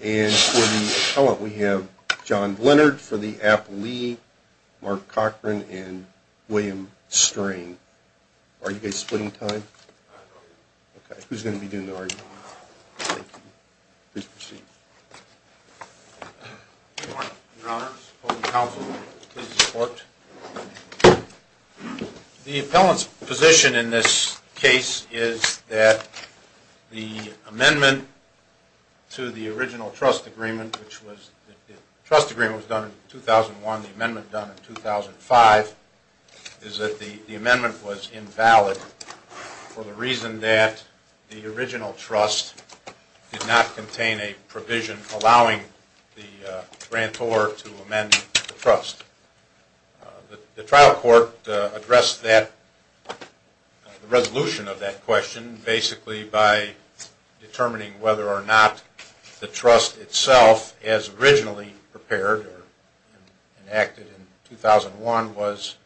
And for the appellant we have John Blenard, for the app, Lee, Mark Cochran, and William Strain. Are you guys splitting time? I don't know. Okay, who's going to be doing the arguing? I don't know. Thank you. Good morning. Good morning. Good morning. Good morning. Good morning. Good morning. Good morning. Opposing counsel, please report. The appellant's position in this case is that the amendment to the original trust agreement, which was the trust agreement was done in 2001, the amendment done in 2005, is that the amendment was invalid for the reason that the original trust did not contain a provision allowing the grantor to amend the trust. The trial court addressed that, the resolution of that question, basically by determining whether or not the trust itself, as originally prepared or enacted in 2001, was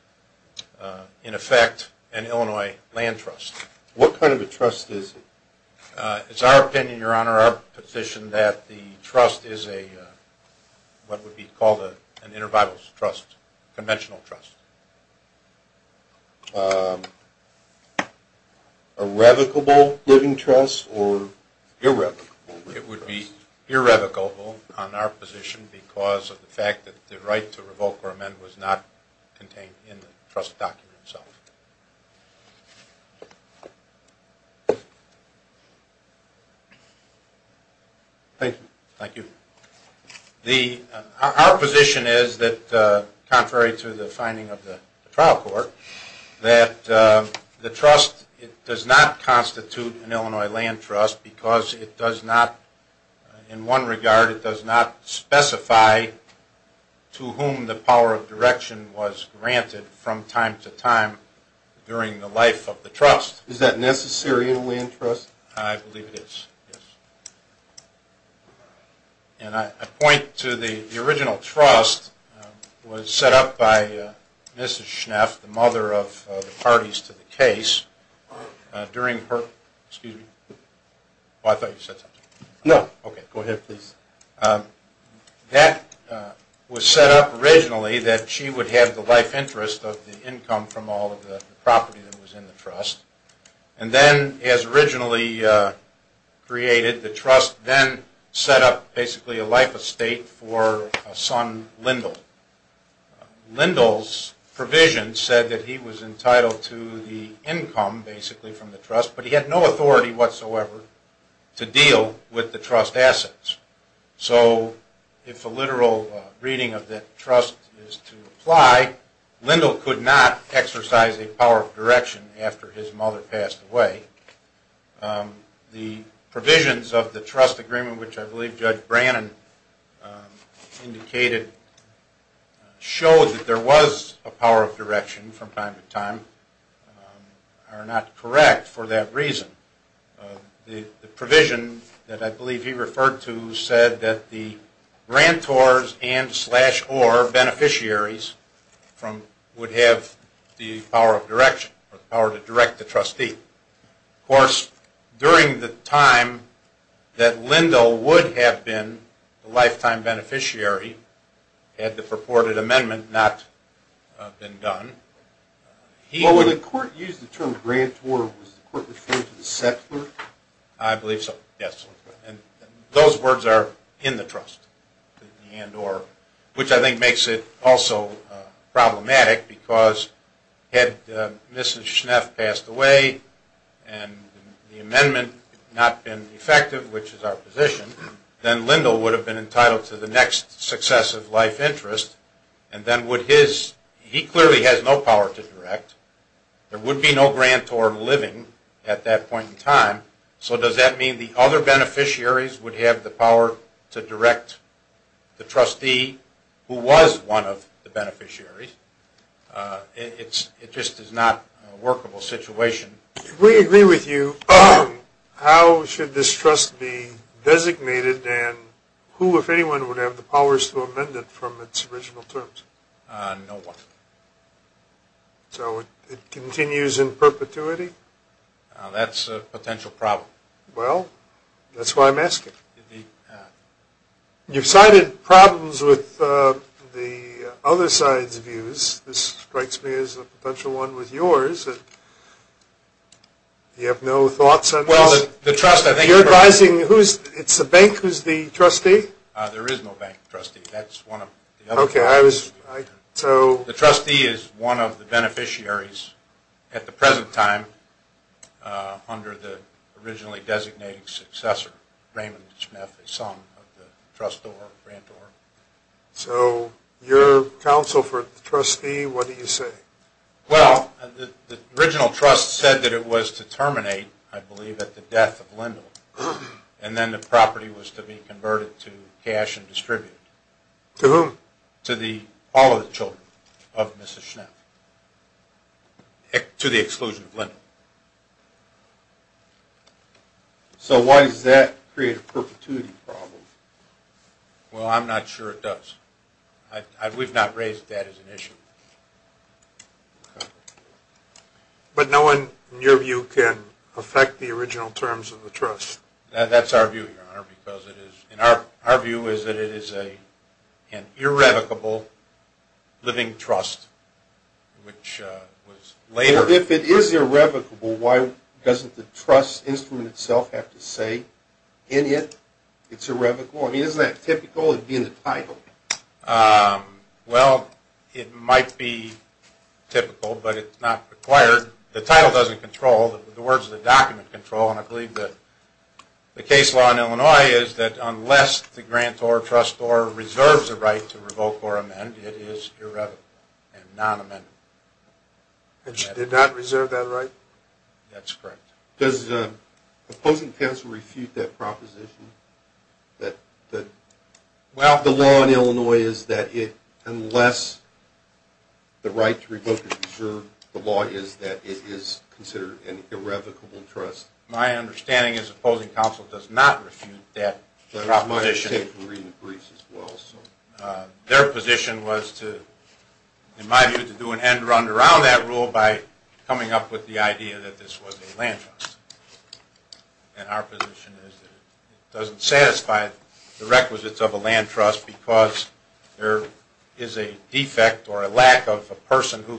in effect an Illinois land trust. What kind of a trust is it? It's our opinion, Your Honor, our position, that the trust is a, what would be called an inter-bibles trust, conventional trust. A revocable living trust or irrevocable? It would be irrevocable on our position because of the fact that the right to revoke or amend was not contained in the trust document itself. Thank you. Thank you. Our position is that, contrary to the finding of the trial court, that the trust does not constitute an Illinois land trust because it does not, in one regard, it does not specify to whom the power of direction was granted from time to time during the life of the trust. Is that necessary in a land trust? I believe it is, yes. And I point to the original trust was set up by Mrs. Schneff, the mother of the parties to the case, during her, excuse me. I thought you said something. No. Okay. Go ahead, please. That was set up originally that she would have the life interest of the income from all of the property that was in the trust, and then as originally created, the trust then set up basically a life estate for a son, Lindle. Lindle's provision said that he was entitled to the income, basically, from the trust, but he had no authority whatsoever to deal with the trust assets. So if a literal reading of that trust is to apply, Lindle could not exercise a power of direction after his mother passed away. The provisions of the trust agreement, which I believe Judge Brannon indicated, showed that there was a power of direction from time to time, are not correct for that reason. The provision that I believe he referred to said that the grantors and slash or beneficiaries would have the power of direction or the power to direct the trustee. Of course, during the time that Lindle would have been a lifetime beneficiary, had the purported amendment not been done, he... Well, when the court used the term grantor, was the court referring to the settler? I believe so, yes. Those words are in the trust, which I think makes it also problematic because had Mrs. Schneff passed away and the amendment not been effective, which is our position, then Lindle would have been entitled to the next successive life interest, and then would his... He clearly has no power to direct. There would be no grantor living at that point in time, so does that mean the other beneficiaries would have the power to direct the trustee who was one of the beneficiaries? It just is not a workable situation. If we agree with you, how should this trust be designated and who, if anyone, would have the powers to amend it from its original terms? No one. So it continues in perpetuity? That's a potential problem. Well, that's why I'm asking. You've cited problems with the other side's views. This strikes me as a potential one with yours. You have no thoughts on this? Well, the trust, I think... You're advising who's... It's the bank who's the trustee? There is no bank trustee. That's one of the other... Okay, I was... I... So... The trustee is one of the beneficiaries at the present time under the originally designated successor, Raymond Schnepf, the son of the trustor grantor. So your counsel for the trustee, what do you say? Well, the original trust said that it was to terminate, I believe, at the death of Lindell, and then the property was to be converted to cash and distributed. To whom? To all of the children of Mrs. Schnepf, to the exclusion of Lindell. So why does that create a perpetuity problem? Well, I'm not sure it does. We've not raised that as an issue. But no one, in your view, can affect the original terms of the trust? That's our view, Your Honor, because it is... ...living trust, which was later... If it is irrevocable, why doesn't the trust instrument itself have to say, in it, it's irrevocable? I mean, isn't that typical of being the title? Well, it might be typical, but it's not required. The title doesn't control. The words of the document control, and I believe that the case law in Illinois is that unless the grantor trusts or reserves the right to revoke or amend, it is irrevocable and non-amendable. It did not reserve that right? That's correct. Does opposing counsel refute that proposition? The law in Illinois is that unless the right to revoke is reserved, the law is that it is considered an irrevocable trust. My understanding is opposing counsel does not refute that proposition. But it's my mistake to read the briefs as well, so... Their position was to, in my view, to do an end-run around that rule by coming up with the idea that this was a land trust. And our position is that it doesn't satisfy the requisites of a land trust because there is a defect or a lack of a person who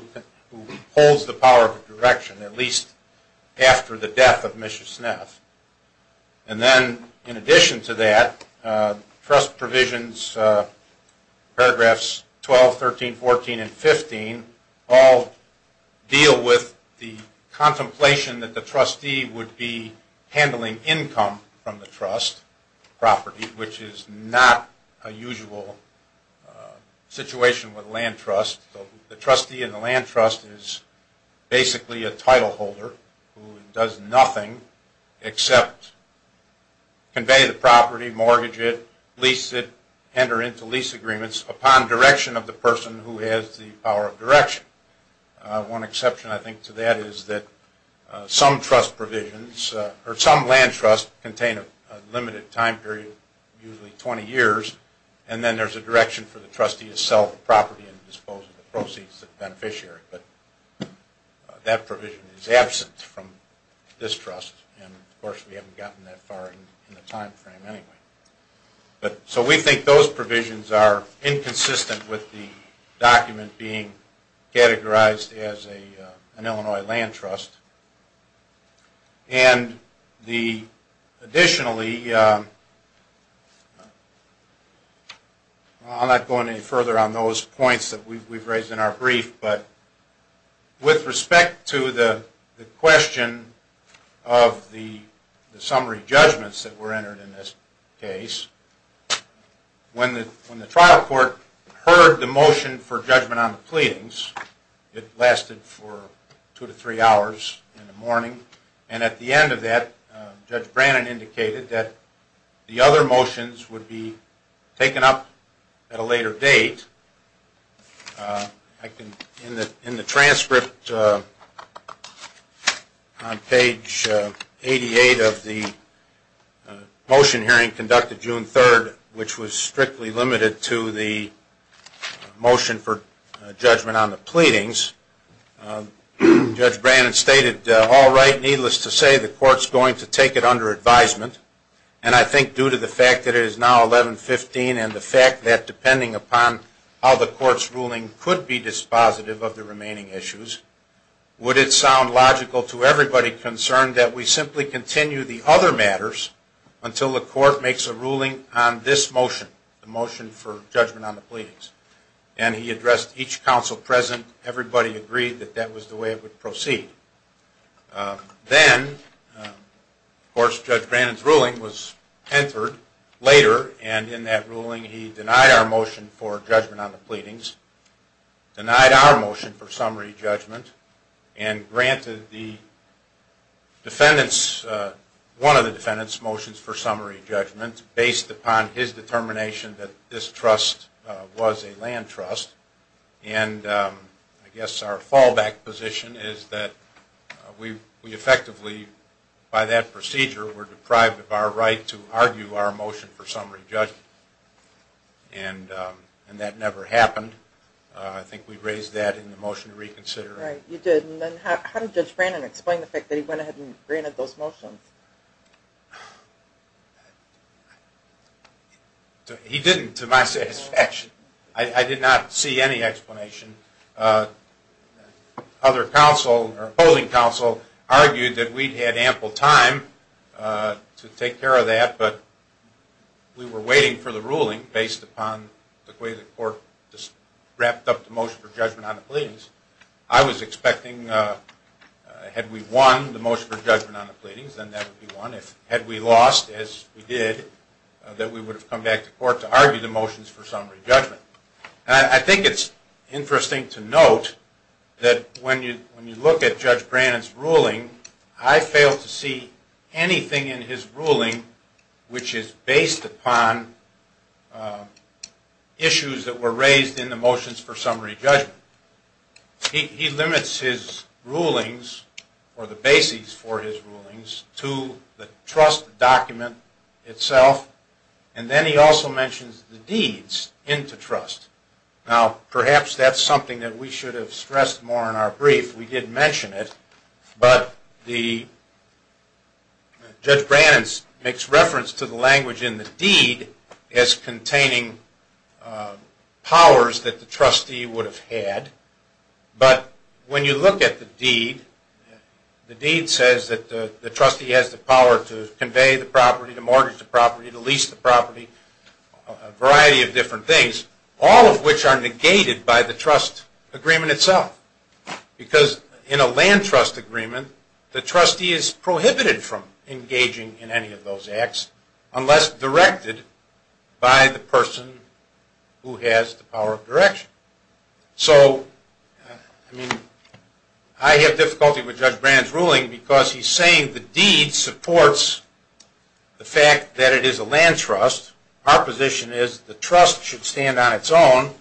holds the power of direction, at least after the death of Misha Sneff. And then, in addition to that, trust provisions, paragraphs 12, 13, 14, and 15, all deal with the contemplation that the trustee would be handling income from the trust property, which is not a usual situation with a land trust. The trustee in the land trust is basically a title holder who does nothing except convey the property, mortgage it, lease it, enter into lease agreements upon direction of the person who has the power of direction. One exception, I think, to that is that some trust provisions or some land trusts contain a limited time period, usually 20 years, and then there's a direction for the trustee to sell the property and dispose of the proceeds of the beneficiary. But that provision is absent from this trust, and of course we haven't gotten that far in the time frame anyway. So we think those provisions are inconsistent with the document being categorized as an Illinois land trust. And additionally, I'm not going any further on those points that we've raised in our brief, but with respect to the question of the summary judgments that were entered in this case, when the trial court heard the motion for judgment on the pleadings, it lasted for two to three hours in the morning, and at the end of that Judge Brannon indicated that the other motions would be taken up at a later date. In the transcript on page 88 of the motion hearing conducted June 3rd, which was strictly limited to the motion for judgment on the pleadings, Judge Brannon stated, all right, needless to say, the court's going to take it under advisement, and I think due to the fact that it is now 11-15 and the fact that depending upon how the court's ruling could be dispositive of the remaining issues, would it sound logical to everybody concerned that we simply continue the other matters until the court makes a ruling on this motion, the motion for judgment on the pleadings. And he addressed each counsel present. Everybody agreed that that was the way it would proceed. Then, of course, Judge Brannon's ruling was entered later, and in that ruling he denied our motion for judgment on the pleadings, denied our motion for summary judgment, and granted the defendants, one of the defendants' motions for summary judgment based upon his determination that this trust was a land trust. And I guess our fallback position is that we effectively, by that procedure, were deprived of our right to argue our motion for summary judgment, and that never happened. I think we raised that in the motion to reconsider. Right, you did. And then how did Judge Brannon explain the fact that he went ahead and granted those motions? He didn't, to my satisfaction. I did not see any explanation. Other counsel, or holding counsel, argued that we'd had ample time to take care of that, but we were waiting for the ruling based upon the way the court just wrapped up the motion for judgment on the pleadings. I was expecting, had we won the motion for judgment on the pleadings, then that would be one. Had we lost, as we did, that we would have come back to court to argue the motions for summary judgment. I think it's interesting to note that when you look at Judge Brannon's ruling, I failed to see anything in his ruling which is based upon issues that were raised in the motions for summary judgment. He limits his rulings, or the bases for his rulings, to the trust document itself, and then he also mentions the deeds into trust. Now, perhaps that's something that we should have stressed more in our brief. We did mention it, but Judge Brannon makes reference to the language in the deed as containing powers that the trustee would have had, but when you look at the deed, the deed says that the trustee has the power to convey the property, to mortgage the property, to lease the property, a variety of different things, all of which are negated by the trust agreement itself. Because in a land trust agreement, the trustee is prohibited from engaging in any of those acts unless directed by the person who has the power of direction. So, I have difficulty with Judge Brannon's ruling because he's saying the deed supports the fact that it is a land trust. Our position is the trust should stand on its own,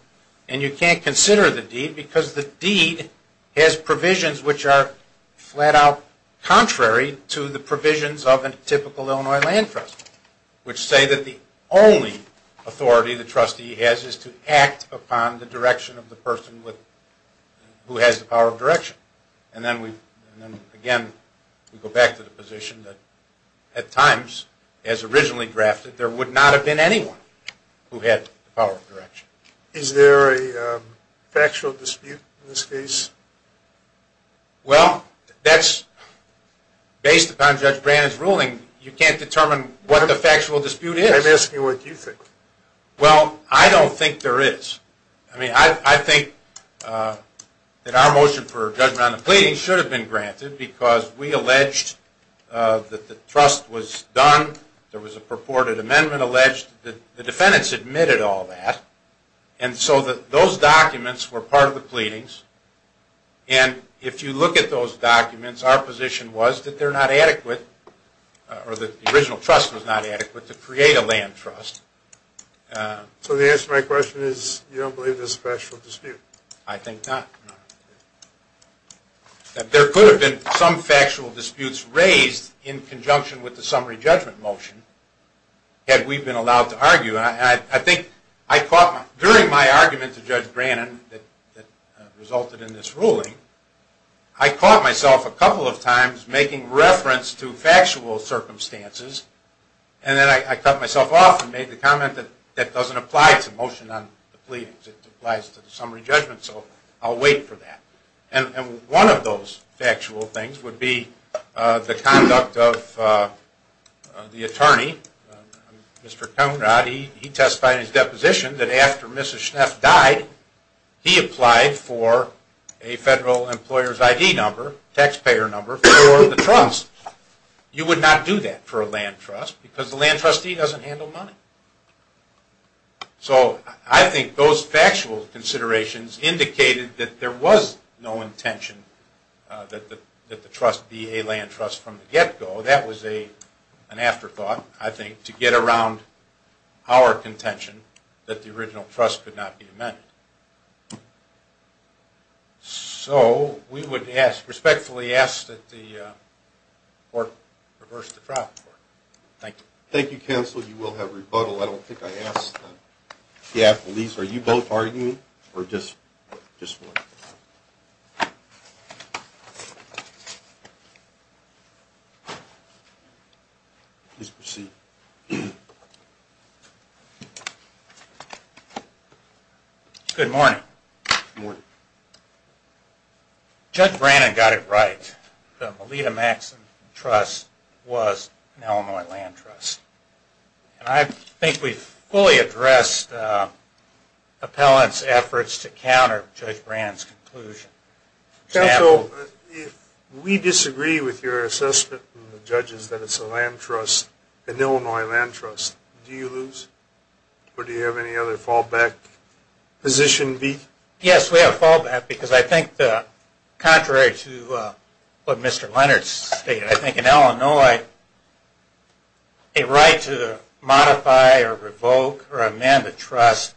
and you can't consider the deed, because the deed has provisions which are flat out contrary to the provisions of a typical Illinois land trust, which say that the only authority the trustee has is to act upon the direction of the person who has the power of direction. And then, again, we go back to the position that at times, as originally drafted, there would not have been anyone who had the power of direction. Is there a factual dispute in this case? Well, based upon Judge Brannon's ruling, you can't determine what the factual dispute is. I'm asking what you think. Well, I don't think there is. I mean, I think that our motion for judgment on the pleading should have been granted because we alleged that the trust was done, there was a purported amendment alleged, the defendants admitted all that, and so those documents were part of the pleadings. And if you look at those documents, our position was that they're not adequate, or that the original trust was not adequate to create a land trust. So the answer to my question is you don't believe there's a factual dispute? I think not. There could have been some factual disputes raised in conjunction with the summary judgment motion, had we been allowed to argue. And I think I caught, during my argument to Judge Brannon that resulted in this ruling, I caught myself a couple of times making reference to factual circumstances, and then I cut myself off and made the comment that that doesn't apply to the motion on the pleadings, it applies to the summary judgment, so I'll wait for that. And one of those factual things would be the conduct of the attorney, Mr. Conrad, he testified in his deposition that after Mrs. Schneff died, he applied for a federal employer's ID number, taxpayer number, for the trust. You would not do that for a land trust because the land trustee doesn't handle money. So I think those factual considerations indicated that there was no intention that the trust be a land trust from the get-go. That was an afterthought, I think, to get around our contention that the original trust could not be amended. So we would respectfully ask that the court reverse the trial. Thank you. Thank you, counsel. You will have rebuttal. I don't think I asked that. Are you both arguing, or just one? Please proceed. Good morning. Good morning. Judge Brannon got it right. The Melita Maxson Trust was an Illinois land trust. And I think we've fully addressed appellant's efforts to counter Judge Brannon's conclusion. Counsel, if we disagree with your assessment from the judges that it's a land trust, an Illinois land trust, do you lose? Or do you have any other fallback position? Yes, we have fallback. Because I think, contrary to what Mr. Leonard stated, I think in Illinois a right to modify or revoke or amend a trust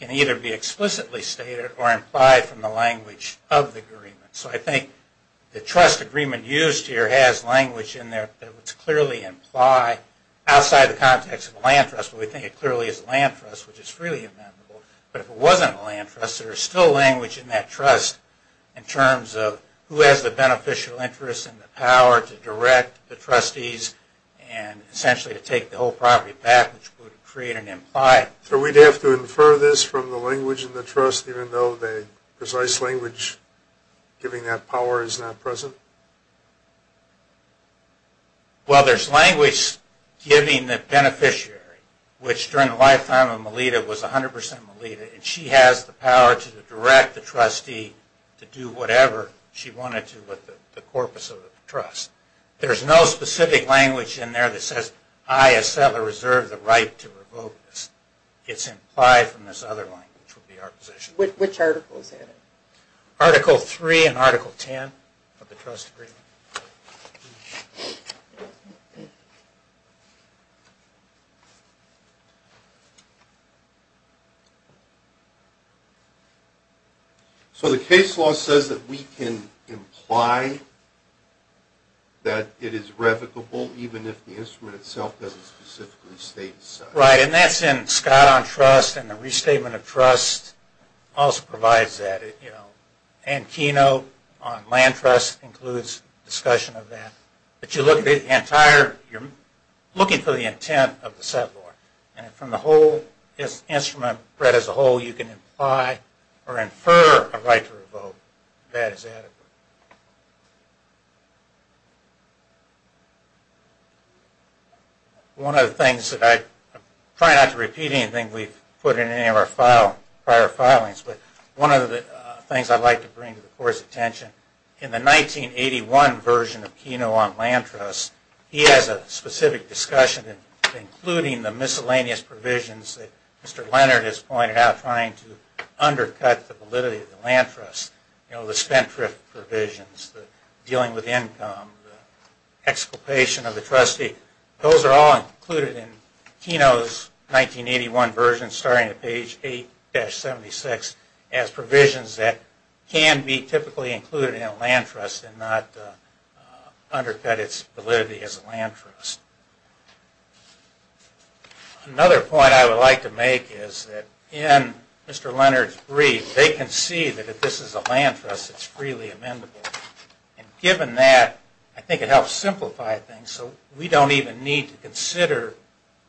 can either be explicitly stated or implied from the language of the agreement. So I think the trust agreement used here has language in there that would clearly imply, outside the context of a land trust, but we think it clearly is a land trust, which is freely amendable. But if it wasn't a land trust, there's still language in that trust in terms of who has the beneficial interest and the power to direct the trustees and essentially to take the whole property back, which would create an implied. So we'd have to infer this from the language in the trust, even though the precise language giving that power is not present? Well, there's language giving the beneficiary, which during the lifetime of Melita was 100% Melita, and she has the power to direct the trustee to do whatever she wanted to with the corpus of the trust. There's no specific language in there that says, I, as settler, reserve the right to revoke this. It's implied from this other language would be our position. Which article is that? Article 3 and Article 10 of the trust agreement. So the case law says that we can imply that it is revocable, even if the instrument itself doesn't specifically state it. Right. And that's in Scott on trust and the restatement of trust also provides that. You know, and keynote on land trust includes discussion of that. But you look at the entire, you're looking for the intent of the settler. And from the whole instrument read as a whole, you can imply or infer a right to revoke that is adequate. One of the things that I, try not to repeat anything we've put in any of our file, prior filings, but one of the things I'd like to bring to the court's attention, in the 1981 version of keynote on land trust, he has a specific discussion of including the miscellaneous provisions that Mr. Leonard has pointed out, trying to undercut the validity of the land trust. You know, the spendthrift provisions, the dealing with income, the exculpation of the trustee. Those are all included in keynote's 1981 version, starting at page 8-76, as provisions that can be typically included in a land trust and not undercut its validity as a land trust. Another point I would like to make is that, in Mr. Leonard's brief, they can see that if this is a land trust, it's freely amendable. And given that, I think it helps simplify things, so we don't even need to consider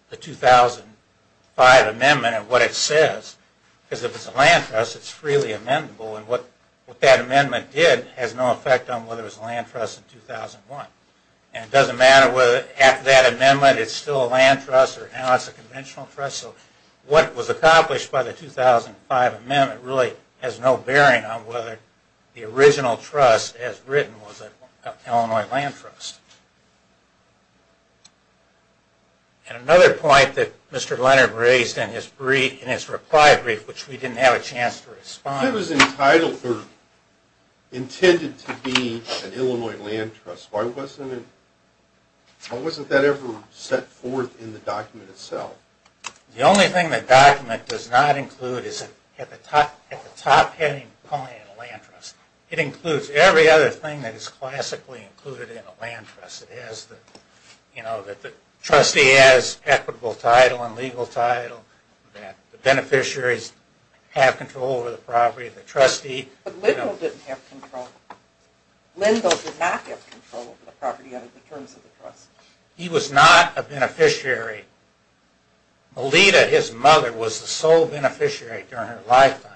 the 2005 amendment and what it says. Because if it's a land trust, it's freely amendable, and what that amendment did has no effect on whether it was a land trust in 2001. And it doesn't matter whether after that amendment it's still a land trust, or now it's a conventional trust. So what was accomplished by the 2005 amendment really has no bearing on whether the original trust as written was an Illinois land trust. And another point that Mr. Leonard raised in his reply brief, which we didn't have a chance to respond to. If it was entitled or intended to be an Illinois land trust, why wasn't that ever set forth in the document itself? The only thing the document does not include is at the top heading point in a land trust. It includes every other thing that is classically included in a land trust. It has the, you know, that the trustee has equitable title and legal title, that the beneficiaries have control over the property of the trustee. But Lindle didn't have control. Lindle did not have control over the property under the terms of the trust. He was not a beneficiary. Melita, his mother, was the sole beneficiary during her lifetime.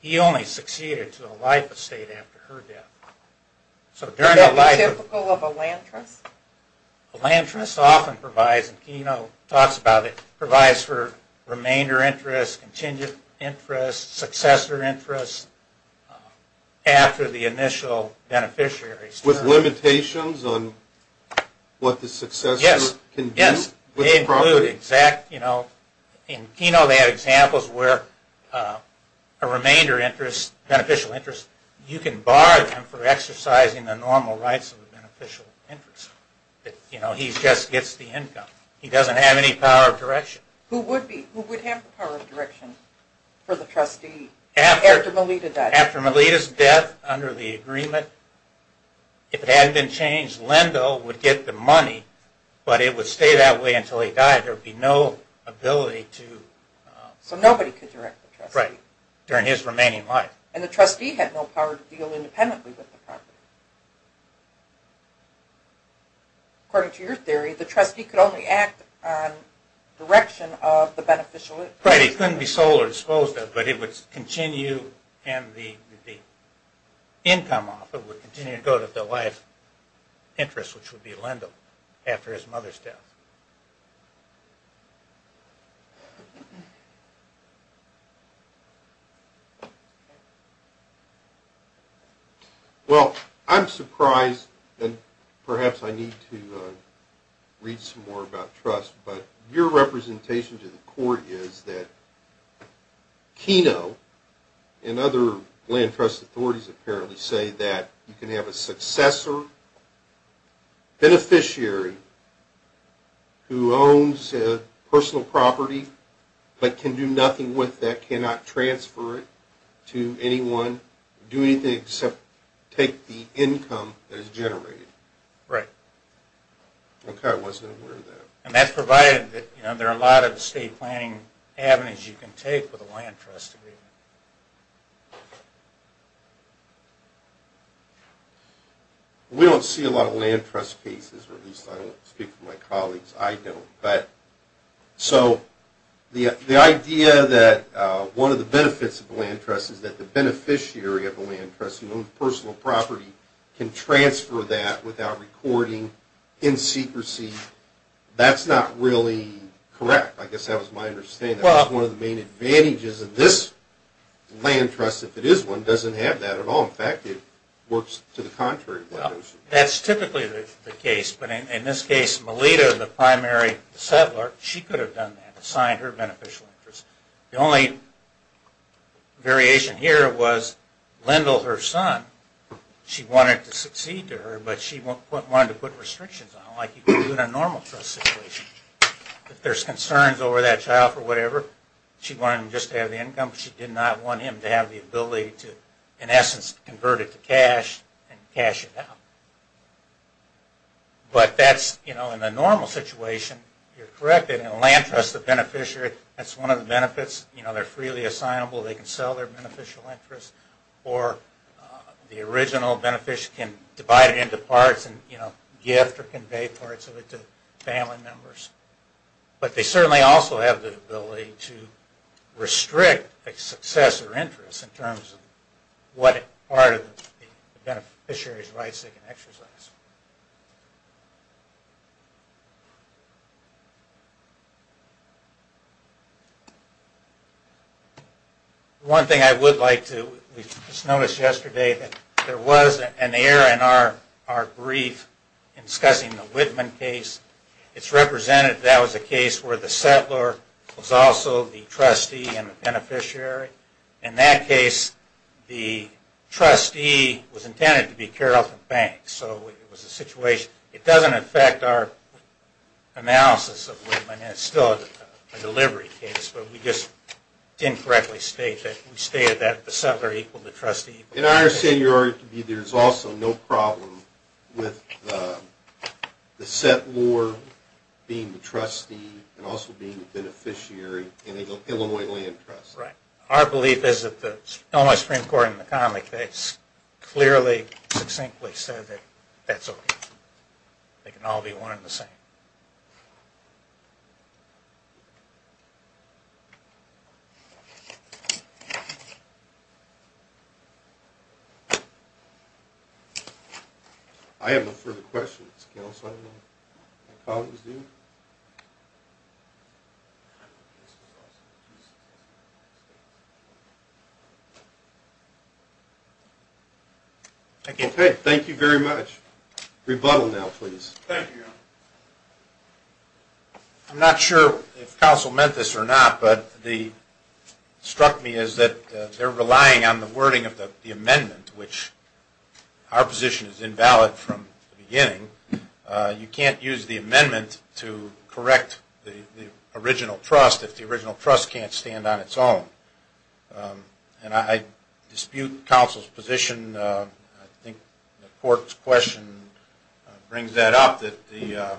He only succeeded to a life estate after her death. So during her life... Is that typical of a land trust? A land trust often provides, and Keno talks about it, provides for remainder interest, contingent interest, successor interest, after the initial beneficiary's term. With limitations on what the successor can do? Yes. They include exact, you know... In Keno they have examples where a remainder interest, beneficial interest, you can bar them for exercising the normal rights of the beneficial interest. You know, he just gets the income. He doesn't have any power of direction. Who would be? Who would have the power of direction for the trustee after Melita died? After Melita's death, under the agreement, if it hadn't been changed, Lindle would get the money, but it would stay that way until he died. There would be no ability to... So nobody could direct the trustee. Right. During his remaining life. And the trustee had no power to deal independently with the property. According to your theory, the trustee could only act on direction of the beneficial... Right, he couldn't be sold or disposed of, but it would continue, and the income off it would continue to go to the life interest, which would be Lindle after his mother's death. Well, I'm surprised, and perhaps I need to read some more about trust, but your representation to the court is that Keno and other land trust authorities apparently say that you can have a successor beneficiary who owns a personal property but can do nothing with that, cannot transfer it to anyone, do anything except take the income that is generated. Right. Okay, I wasn't aware of that. And that's provided that there are a lot of state planning avenues you can take with a land trust agreement. We don't see a lot of land trust cases, or at least I don't speak for my colleagues, I don't. So the idea that one of the benefits of a land trust is that the beneficiary of a land trust who owns a personal property can transfer that without recording, in secrecy, that's not really correct. I guess that was my understanding. That's one of the main advantages, and this land trust, if it is one, doesn't have that at all. In fact, it works to the contrary. That's typically the case, but in this case, Melita, the primary settler, she could have done that, assigned her beneficial interest. The only variation here was Lindle, her son, she wanted to succeed to her, but she wanted to put restrictions on it like you would do in a normal trust situation. If there's concerns over that child or whatever, she wanted him just to have the income. She did not want him to have the ability to, in essence, convert it to cash and cash it out. But that's, you know, in a normal situation, you're correct. In a land trust, the beneficiary, that's one of the benefits. You know, they're freely assignable, they can sell their beneficial interest, or the original beneficiary can divide it into parts and, you know, gift or convey parts of it to family members. But they certainly also have the ability to restrict a successor interest in terms of what part of the beneficiary's rights they can exercise. One thing I would like to, we just noticed yesterday, that there was an error in our brief discussing the Whitman case. It's represented that was a case where the settler was also the trustee and the beneficiary. In that case, the trustee was intended to be Carrollton Banks. So it was a situation, it doesn't affect our analysis of Whitman, it's still a delivery case, but we just incorrectly stated that the settler equal the trustee. And I understand your argument to be there's also no problem with the settler being the trustee and also being the beneficiary in an Illinois land trust. Right. Our belief is that the Illinois Supreme Court in the comic case clearly, succinctly said that that's okay. They can all be one and the same. I have no further questions. Okay, thank you very much. Rebuttal now, please. Thank you. I'm not sure if counsel meant this or not, but what struck me is that they're relying on the wording of the amendment, which our position is invalid from the beginning. You can't use the amendment to correct the original trust if the original trust can't stand on its own. And I dispute counsel's position. I think the court's question brings that up, that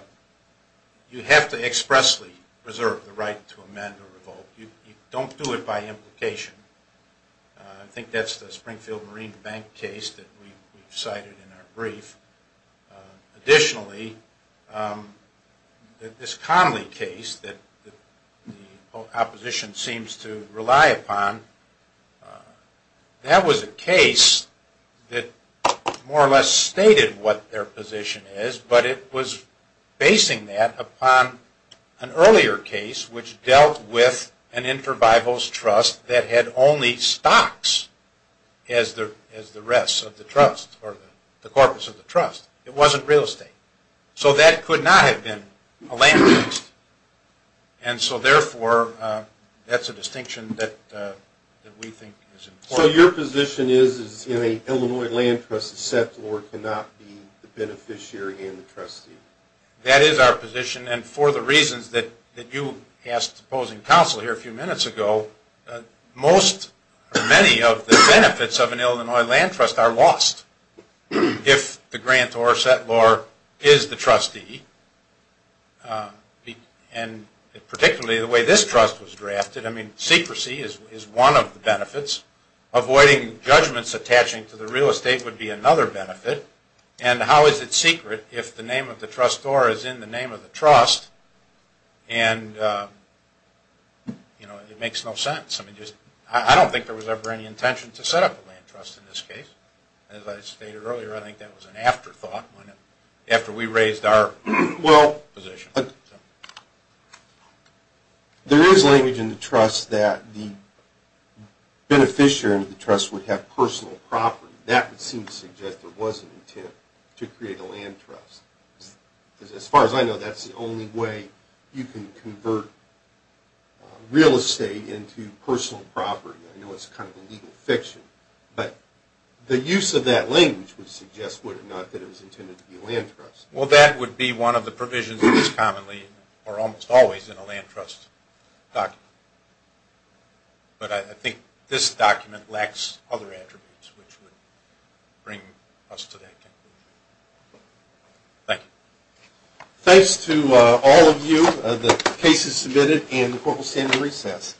you have to expressly preserve the right to amend or revoke. You don't do it by implication. I think that's the Springfield Marine Bank case that we cited in our brief. Additionally, this Conley case that the opposition seems to rely upon, that was a case that more or less stated what their position is, but it was basing that upon an earlier case which dealt with an inter-bibles trust that had only stocks as the rest of the trust or the corpus of the trust. It wasn't real estate. So that could not have been a land trust. And so therefore, that's a distinction that we think is important. So your position is that an Illinois land trust settlor cannot be the beneficiary and the trustee? That is our position. And for the reasons that you asked opposing counsel here a few minutes ago, many of the benefits of an Illinois land trust are lost if the grantor settlor is the trustee and particularly the way this trust was drafted. I mean, secrecy is one of the benefits. Avoiding judgments attaching to the real estate would be another benefit. And how is it secret if the name of the trustor is in the name of the trust? And it makes no sense. I mean, I don't think there was ever any intention to set up a land trust in this case. As I stated earlier, I think that was an afterthought. After we raised our position. There is language in the trust that the beneficiary of the trust would have personal property. That would seem to suggest there was an intent to create a land trust. As far as I know, that's the only way you can convert real estate into personal property. I know it's kind of a legal fiction. But the use of that language would suggest, would it not, that it was intended to be a land trust. Well, that would be one of the provisions that is commonly or almost always in a land trust document. But I think this document lacks other attributes which would bring us to that conclusion. Thank you. Thanks to all of you. The case is submitted and the court will stand in recess.